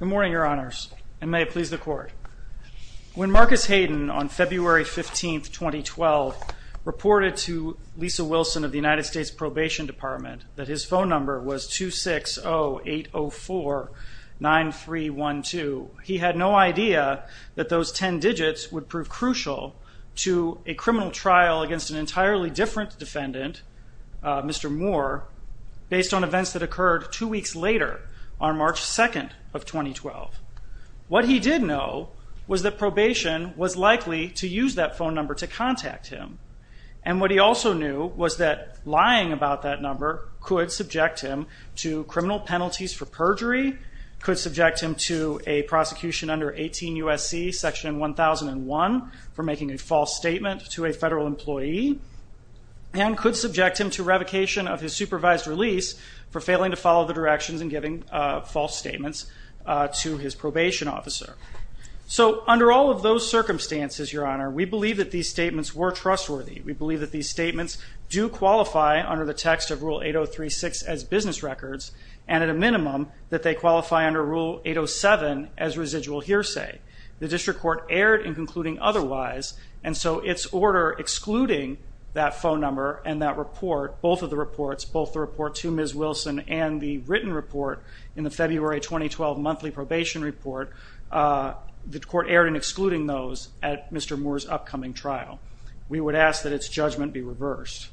Good morning, Your Honors, and may it please the Court. When Marcus Hayden on February 15, 2012, reported to Lisa Wilson of the United States Probation Department that his phone number was 260-804-9312, he had no idea that those ten digits would prove crucial to a criminal trial against an entirely different defendant, Mr. Moore, based on events that occurred two weeks later on March 2, 2012. What he did know was that probation was likely to use that phone number to contact him, and what he also knew was that lying about that number could subject him to criminal penalties for perjury, could subject him to a prosecution under 18 U.S.C. section 1001 for making a false statement to a federal employee, and could subject him to revocation of his supervised release for failing to follow the directions in giving false statements to his probation officer. So under all of those circumstances, Your Honor, we believe that these statements were trustworthy. We believe that these statements do qualify under the text of Rule 803-6 as business records, and at a minimum, that they qualify under Rule 807 as residual hearsay. The district court erred in concluding otherwise, and so its order excluding that phone number and that report, both of the reports, both the report to Ms. Wilson and the written report in the February 2012 monthly probation report, the court erred in excluding those at Mr. Moore's upcoming trial. We would ask that its judgment be reversed.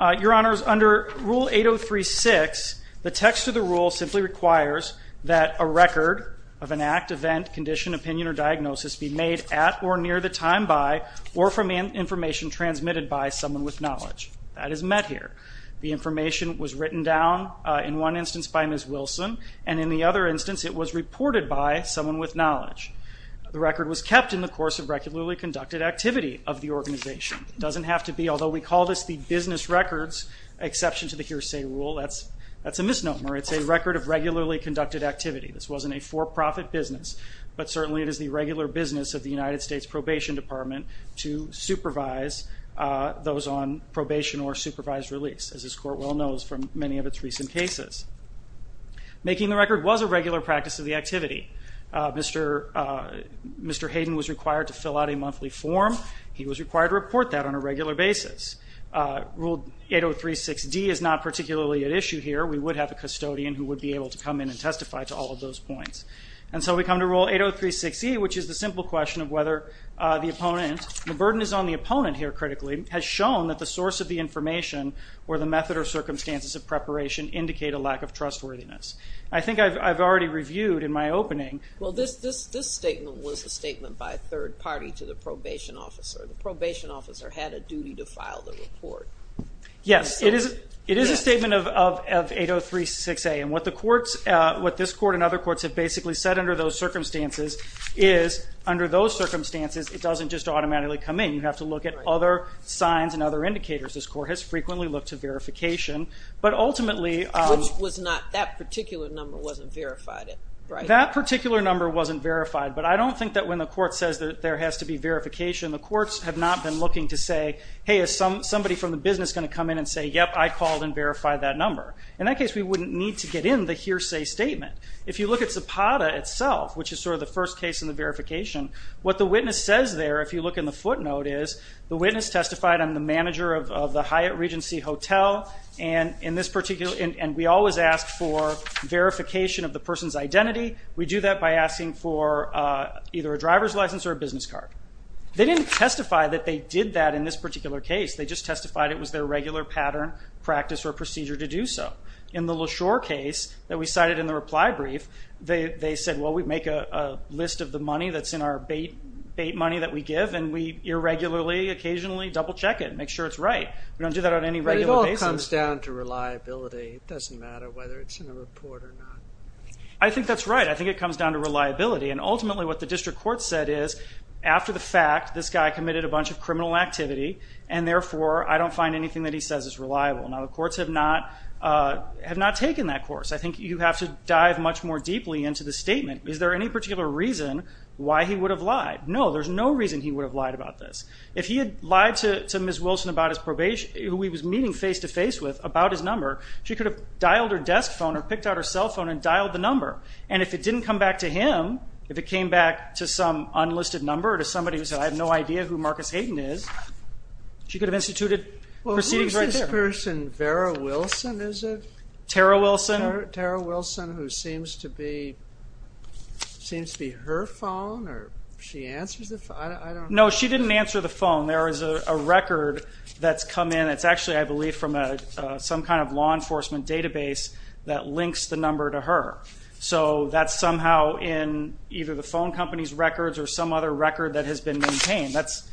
Your Honors, under Rule 803-6, the text of the rule simply requires that a record of an act, event, condition, opinion, or diagnosis be made at or near the time by or from information transmitted by someone with knowledge. That is met here. The information was written down in one instance by Ms. Wilson, and in the other instance, it was reported by someone with knowledge. The record was kept in the course of regularly conducted activity of the organization. It doesn't have to be, although we call this the business records exception to the hearsay rule, that's a misnomer. It's a record of regularly conducted activity. This wasn't a for-profit business, but certainly it is the regular business of the United States Probation Department to supervise those on probation or supervised release, as this court well knows from many of its recent cases. Making the record was a regular practice of activity. Mr. Hayden was required to fill out a monthly form. He was required to report that on a regular basis. Rule 803-6D is not particularly at issue here. We would have a custodian who would be able to come in and testify to all of those points. And so we come to Rule 803-6E, which is the simple question of whether the opponent, the burden is on the opponent here critically, has shown that the source of the information or the method or circumstances of preparation indicate a lack of trustworthiness. I think I've already reviewed in my opening. Well, this statement was a statement by a third party to the probation officer. The probation officer had a duty to file the report. Yes, it is a statement of 803-6A, and what this court and other courts have basically said under those circumstances is under those circumstances, it doesn't just automatically come in. You have to look at other signs and other indicators. This court has frequently looked to verification, but That particular number wasn't verified, but I don't think that when the court says that there has to be verification, the courts have not been looking to say, hey, is somebody from the business going to come in and say, yep, I called and verified that number. In that case, we wouldn't need to get in the hearsay statement. If you look at Zapata itself, which is sort of the first case in the verification, what the witness says there, if you look in the footnote, is the witness testified on the manager of the Hyatt Regency Hotel, and this particular, and we always ask for verification of the person's identity. We do that by asking for either a driver's license or a business card. They didn't testify that they did that in this particular case. They just testified it was their regular pattern, practice, or procedure to do so. In the LaShore case that we cited in the reply brief, they said, well, we make a list of the money that's in our bait money that we give, and we irregularly occasionally double check it and make sure it's right. We don't do that on any regular basis. It all comes down to reliability. It doesn't matter whether it's in a report or not. I think that's right. I think it comes down to reliability, and ultimately what the district court said is, after the fact, this guy committed a bunch of criminal activity, and therefore I don't find anything that he says is reliable. Now, the courts have not taken that course. I think you have to dive much more deeply into the statement. Is there any particular reason why he would have lied? No, there's no reason he would have lied about his probation, who he was meeting face-to-face with, about his number. She could have dialed her desk phone or picked out her cell phone and dialed the number, and if it didn't come back to him, if it came back to some unlisted number or to somebody who said, I have no idea who Marcus Hayden is, she could have instituted proceedings right there. Who is this person? Vera Wilson, is it? Tara Wilson. Tara Wilson, who seems to be her phone, or she answers the phone? I don't know. No, she didn't answer the phone. There is a record that's come in. It's actually, I believe, from some kind of law enforcement database that links the number to her. So that's somehow in either the phone company's records or some other record that has been maintained. That's,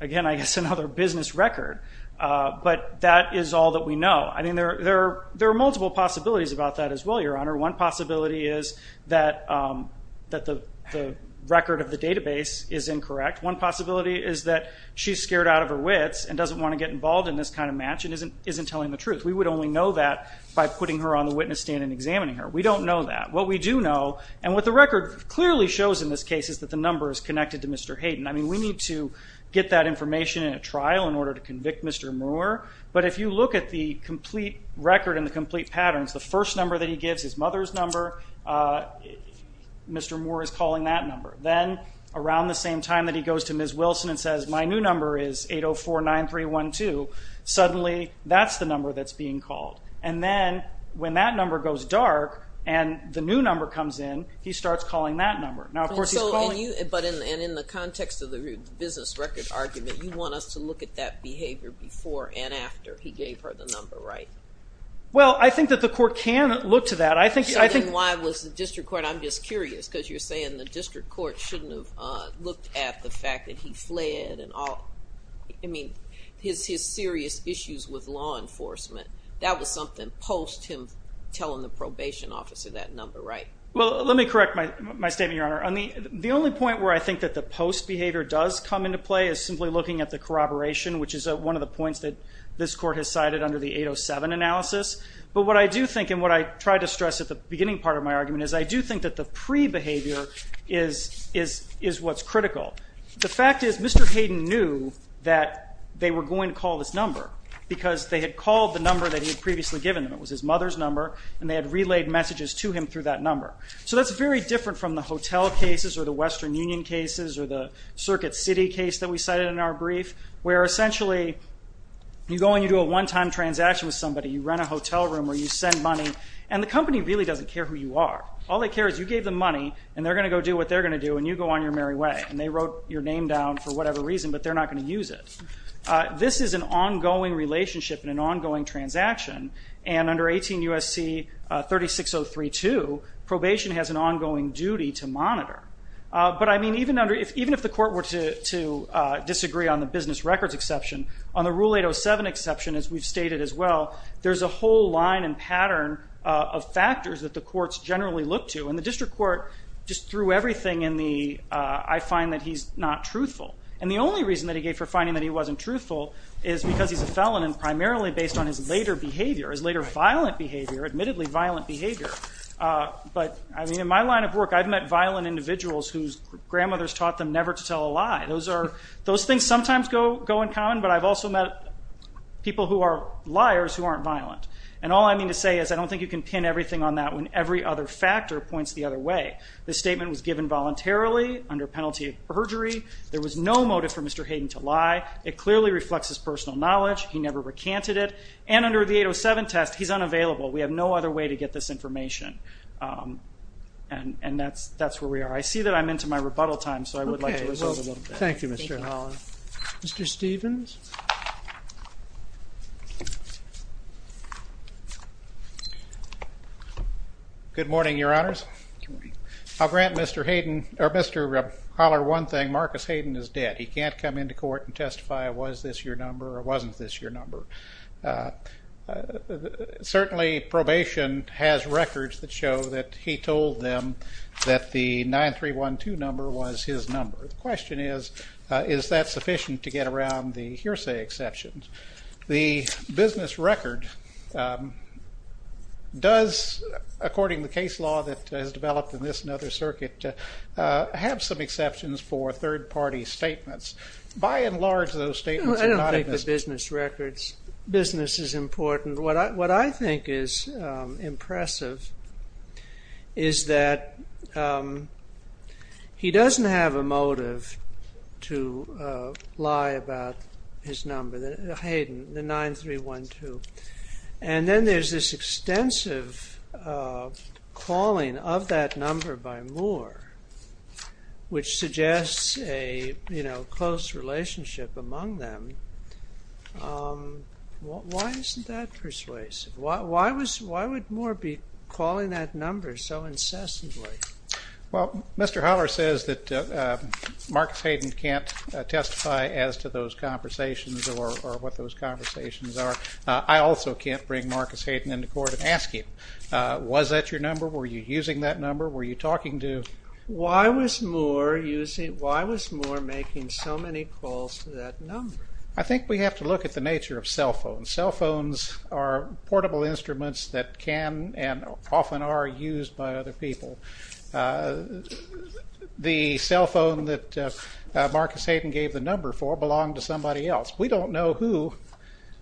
again, I guess another business record. But that is all that we know. I mean, there are multiple possibilities about that as well, Your Honor. One possibility is that the record of the database is incorrect. One possibility is that she's scared out of her wits and doesn't want to get involved in this kind of match and isn't telling the truth. We would only know that by putting her on the witness stand and examining her. We don't know that. What we do know, and what the record clearly shows in this case, is that the number is connected to Mr. Hayden. I mean, we need to get that information in a trial in order to convict Mr. Moore, but if you look at the complete record and the first number that he gives his mother's number, Mr. Moore is calling that number. Then, around the same time that he goes to Ms. Wilson and says, my new number is 804-9312, suddenly that's the number that's being called. And then, when that number goes dark and the new number comes in, he starts calling that number. Now, of course, he's calling... But in the context of the business record argument, you want us to look at that behavior before and after he gave her the number, right? Well, I think that the court can look to that. I think... So then, why was the district court... I'm just curious, because you're saying the district court shouldn't have looked at the fact that he fled and all... I mean, his serious issues with law enforcement. That was something post him telling the probation officer that number, right? Well, let me correct my statement, Your Honor. The only point where I think that the post behavior does come into play is simply looking at the corroboration, which is one of the points that this court has cited under the 807 analysis. But what I do think, and what I tried to stress at the beginning part of my argument, is I do think that the pre-behavior is what's critical. The fact is, Mr. Hayden knew that they were going to call this number, because they had called the number that he had previously given them. It was his mother's number, and they had relayed messages to him through that number. So that's very different from the hotel cases, or the Western Union cases, or the Circuit City case that we cited in our brief, where essentially, you go and you do a one-time transaction with somebody, you rent a hotel room, or you send money, and the company really doesn't care who you are. All they care is you gave them money, and they're going to go do what they're going to do, and you go on your merry way. And they wrote your name down for whatever reason, but they're not going to use it. This is an ongoing relationship and an ongoing transaction, and under 18 U.S.C. 36032, probation has an ongoing duty to monitor. But I mean, even if the court were to disagree on the business records exception, on the Rule 807 exception, as we've stated as well, there's a whole line and pattern of factors that the courts generally look to, and the district court just threw everything in the, I find that he's not truthful. And the only reason that he gave for finding that he wasn't truthful is because he's a felon, and primarily based on his later behavior, his later violent behavior, admittedly violent behavior. But I mean, in my line of work, I've met violent individuals whose grandmothers taught them never to tell a lie. Those things sometimes go in common, but I've also met people who are liars who aren't violent. And all I mean to say is I don't think you can pin everything on that when every other factor points the other way. This statement was given voluntarily, under penalty of perjury. There was no motive for Mr. Hayden to lie. It clearly reflects his personal knowledge. He never recanted it. And under the 807 test, he's unavailable. We have no other way to get this information. And that's where we are. I see that I'm into my rebuttal time, so I would like to resolve a little bit. Okay. Well, thank you, Mr. Haller. Mr. Stevens? Good morning, Your Honors. Good morning. I'll grant Mr. Hayden, or Mr. Haller, one thing. Marcus Hayden is dead. He can't come into court and testify, was this your number or wasn't this your number? Certainly, probation has records that show that he told them that the 9312 number was his number. The question is, is that sufficient to get around the hearsay exceptions? The business record does, according to the case law that has developed in this and other circuit, have some exceptions for third-party statements. By and large, those statements are not... I don't think the business records, business is important. What I think is impressive is that he doesn't have a motive to lie about his number, Hayden, the 9312. And then there's this extensive calling of that number by Moore, which suggests a close relationship among them. Why isn't that persuasive? Why would Moore be calling that number so incessantly? Well, Mr. Haller says that Marcus Hayden can't testify as to those conversations or what those conversations are. I also can't bring Marcus Hayden into court and ask him, was that your number? Were you using that number? Were you talking to... Why was Moore making so many calls to that number? I think we have to look at the nature of cellphones. Cellphones are portable instruments that can and often are used by other people. The cell phone that Marcus Hayden gave the number for belonged to somebody else. We don't know who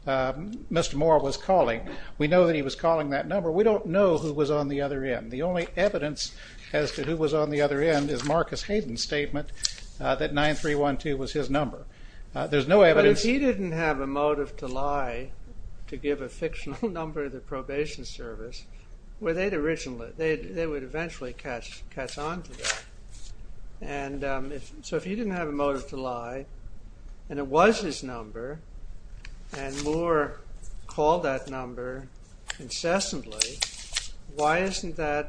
Mr. Moore was calling. We know that he was calling that number. We don't know who was on the other end. The only evidence as to who was on the other end is Marcus Hayden's statement that 9312 was his number. There's no evidence... But if he didn't have a motive to lie to give a fictional number to the probation service, they would eventually catch on to that. So if he didn't have a motive to lie, and it was his number, and Moore called that number incessantly, why isn't the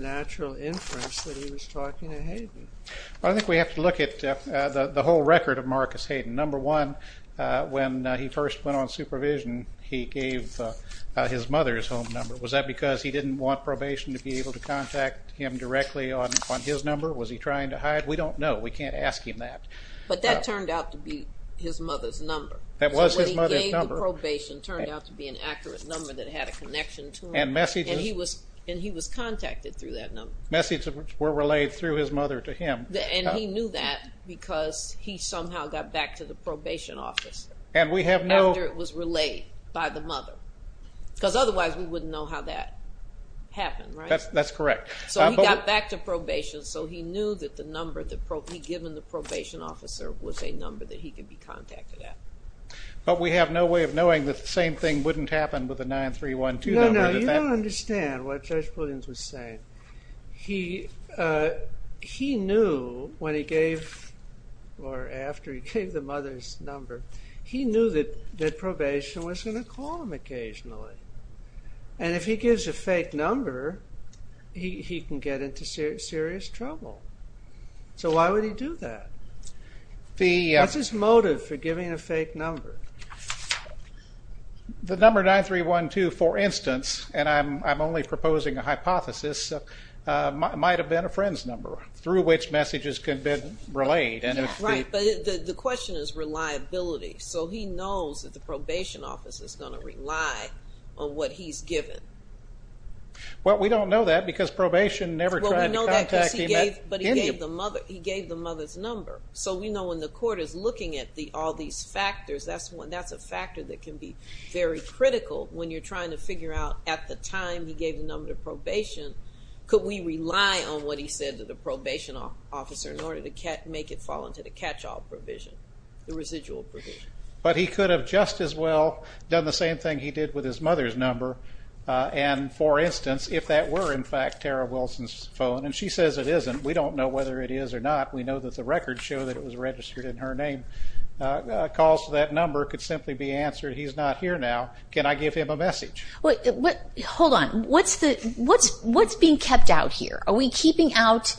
natural inference that he was talking to Hayden? I think we have to look at the whole record of Marcus Hayden. Number one, when he first went on supervision, he gave his mother's home number. Was that because he didn't want probation to be able to contact him directly on his number? Was he trying to hide? We don't know. We can't ask him that. But that turned out to be his mother's number. That was his mother's number. So what he gave the probation turned out to be an accurate number that had a connection to him. And messages... And he was contacted through that number. Messages were relayed through his mother to him. And he knew that because he somehow got back to the probation office. And we have no... After it was relayed by the mother. Because otherwise we wouldn't know how that happened, right? That's correct. So he got back to probation, so he knew that the number that he'd given the probation officer was a number that he could be contacted at. But we have no way of knowing that the same thing wouldn't happen with a 9-3-1-2 number. No, no, you don't understand what Judge Williams was saying. He knew when he gave, or after he gave the mother's number, he knew that probation was going to call him occasionally. And if he gives a fake number, he can get into serious trouble. So why would he do that? What's his motive for giving a fake number? The number 9-3-1-2, for instance, and I'm only proposing a hypothesis, might have been a friend's number through which messages could have been relayed. Right, but the question is reliability. So he knows that the probation office is going to rely on what he's given. Well we don't know that because probation never tried to contact him at any... But he gave the mother's number. So we know when the court is looking at all these factors, that's one, that's a factor that can be very critical when you're trying to figure out at the time he gave the number to probation, could we rely on what he said to the probation officer in order to make it fall into the catch-all provision, the residual provision. But he could have just as well done the same thing he did with his mother's number. And for instance, if that were in fact Tara Wilson's phone, and she says it isn't, we don't know whether it is or not. We know that the records show that it was registered in her name. Calls that number could simply be answered, he's not here now, can I give him a message? Hold on. What's being kept out here? Are we keeping out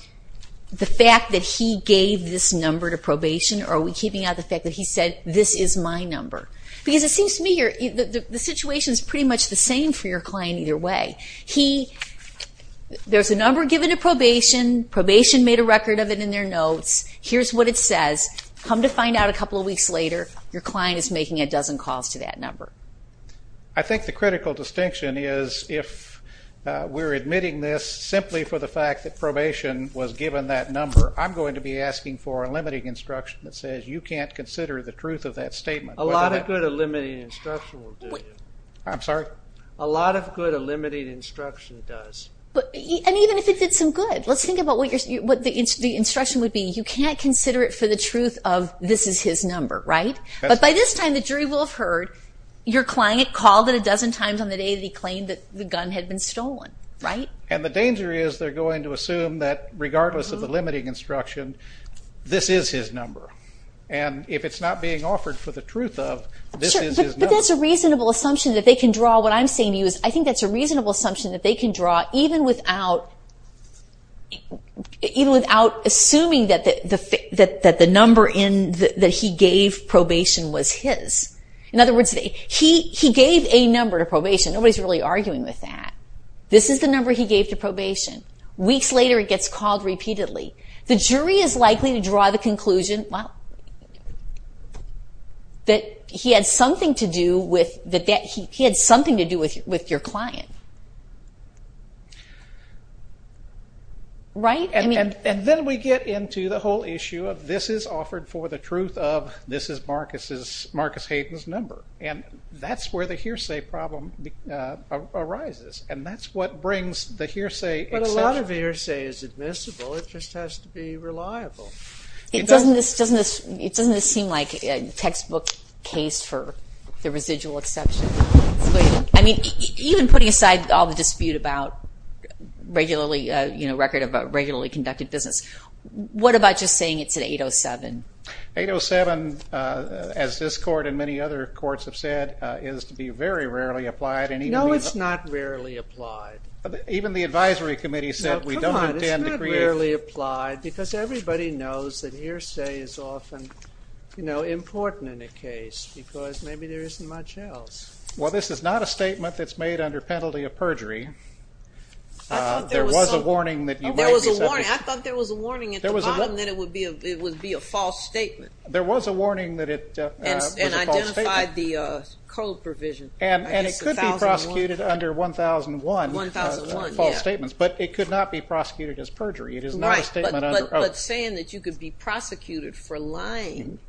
the fact that he gave this number to probation, or are we keeping out the fact that he said, this is my number? Because it seems to me here, the situation is pretty much the same for your client either way. There's a number given to probation, probation made a record of it in their notes, here's what it says, come to find out a couple of weeks later, your client is making a dozen calls to that number. I think the critical distinction is if we're admitting this simply for the fact that probation was given that number, I'm going to be asking for a limiting instruction that says you can't consider the truth of that statement. A lot of good a limiting instruction will do you. I'm sorry? A lot of good a limiting instruction does. And even if it did some good, let's think about what the instruction would be. You can't consider it for the truth of, this is his number, right? But by this time the jury will have heard your client called it a dozen times on the day that he claimed that the gun had been stolen, right? And the danger is they're going to assume that regardless of the limiting instruction, this is his number. And if it's not being offered for the truth of, this is his number. But that's a reasonable assumption that they can draw. What I'm saying to you is, I think that's a reasonable assumption that they can draw even without assuming that the number in that he gave probation was his. In other words, he gave a number to probation. Nobody's really arguing with that. This is the number he gave to probation. Weeks later it gets called repeatedly. The jury is likely to draw the conclusion that he had something to do with your client. And then we get into the whole issue of, this is offered for the truth of, this is Marcus Hayden's number. And that's where the hearsay problem arises. And that's what brings the hearsay exception. But a lot of hearsay is admissible. It just has to be reliable. It doesn't seem like a textbook case for the residual exception. I mean, even putting aside all the dispute about regularly, you know, record of a regularly conducted business, what about just saying it's an 807? 807, as this court and many other courts have said, is to be very rarely applied. No, it's not rarely applied. Even the advisory committee said we don't intend to create... Everybody knows that hearsay is often, you know, important in a case because maybe there isn't much else. Well, this is not a statement that's made under penalty of perjury. There was a warning that you might be subject to... There was a warning. I thought there was a warning at the bottom that it would be a false statement. There was a warning that it was a false statement. And identified the code provision, I guess, 1001. And it could be prosecuted under 1001, false statements. But it could not be prosecuted as perjury. It is not a statement under oath. But saying that you could be prosecuted for lying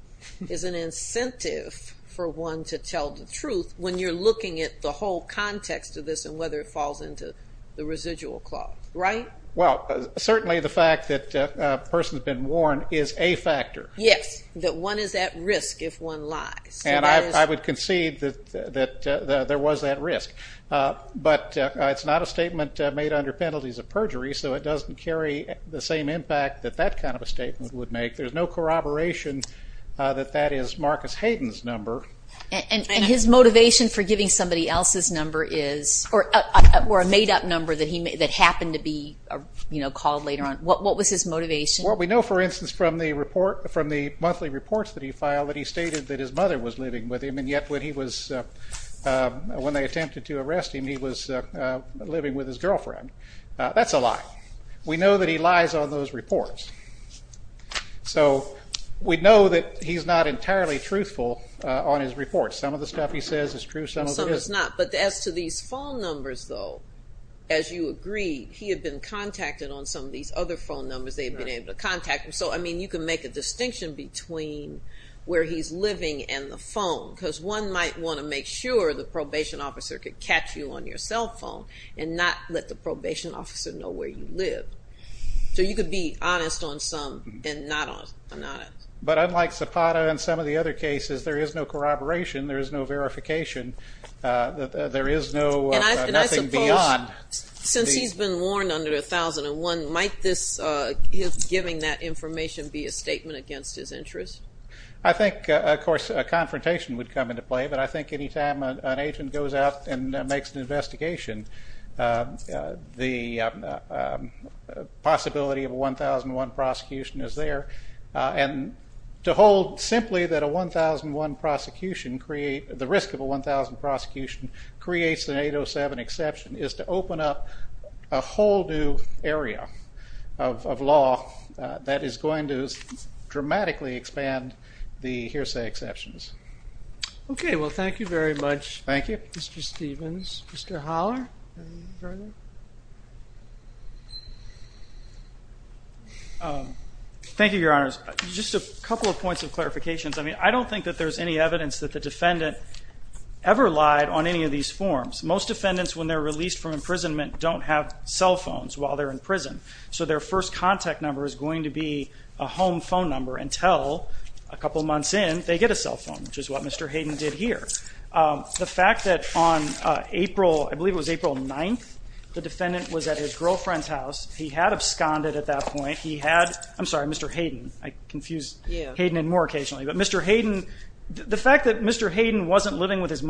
is an incentive for one to tell the truth when you're looking at the whole context of this and whether it falls into the residual clause, right? Well, certainly the fact that a person's been warned is a factor. Yes, that one is at risk if one lies. And I would concede that there was that risk. But it's not a statement made under penalties of perjury, so it doesn't carry the same impact that that kind of a statement would make. There's no corroboration that that is Marcus Hayden's number. And his motivation for giving somebody else's number is, or a made-up number that happened to be called later on. What was his motivation? Well, we know, for instance, from the monthly reports that he filed, that he stated that his mother was living with him. And yet when they attempted to arrest him, he was living with his girlfriend. That's a lie. We know that he lies on those reports. So we know that he's not entirely truthful on his reports. Some of the stuff he says is true, some of it isn't. Some of it's not. But as to these phone numbers, though, as you agree, he had been contacted on some of these other phone numbers. They had been able to contact him. So, I mean, you can make a distinction between where he's living and the phone. Because one might want to make sure the probation officer could catch you on your cell phone and not let the probation officer know where you live. So you could be honest on some and not on others. But unlike Zapata and some of the other cases, there is no corroboration. There is no verification. There is no, nothing beyond. And I suppose, since he's been warned under 1001, might this, his giving that information be a statement against his interests? I think, of course, a confrontation would come into play. But I think any time an agent goes out and makes an investigation, the possibility of a 1001 prosecution is there. And to hold simply that a 1001 prosecution create, the risk of a 1001 prosecution creates an 807 exception, is to open up a whole new area of law that is going to dramatically expand the hearsay exceptions. Okay. Well, thank you very much, Mr. Stephens. Mr. Holler? Thank you, Your Honors. Just a couple of points of clarifications. I mean, I don't think that there's any evidence that the defendant ever lied on any of these forms. Most defendants when they're released from imprisonment don't have cell phones while they're in prison. So their first contact number is going to be a home phone number until a couple months in, they get a cell phone, which is what Mr. Hayden did here. The fact that on April, I believe it was April 9th, the defendant was at his girlfriend's house. He had absconded at that point. He had, I'm sorry, Mr. Hayden. I confuse Hayden and Moore occasionally. But Mr. Hayden, the fact that Mr. Hayden wasn't living with his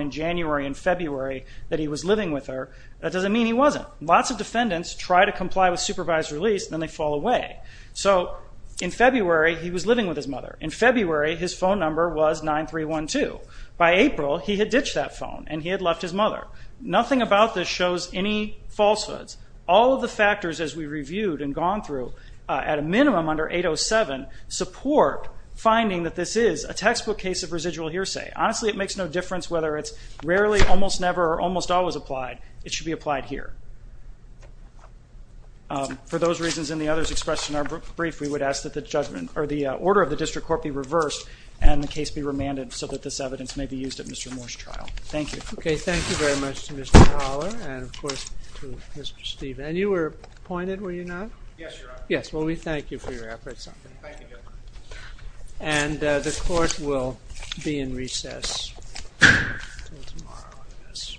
in January and February that he was living with her, that doesn't mean he wasn't. Lots of defendants try to comply with supervised release, then they fall away. So in February, he was living with his mother. In February, his phone number was 9312. By April, he had ditched that phone and he had left his mother. Nothing about this shows any falsehoods. All of the factors as we reviewed and gone through, at a minimum under 807, support finding that this is a textbook case of residual hearsay. Honestly, it makes no difference whether it's rarely, almost never, or almost always applied. It should be applied here. For those reasons and the others expressed in our brief, we would ask that the judgment or the order of the district court be reversed and the case be remanded so that this evidence may be used at Mr. Moore's trial. Thank you. Okay, thank you very much to Mr. Howler and of course to Mr. Steven. And you were appointed, were you not? Yes, Your Honor. Yes, well we thank you for your efforts. Thank you, Your Honor. And the court will be in recess until tomorrow, I guess. Thank you, Your Honor.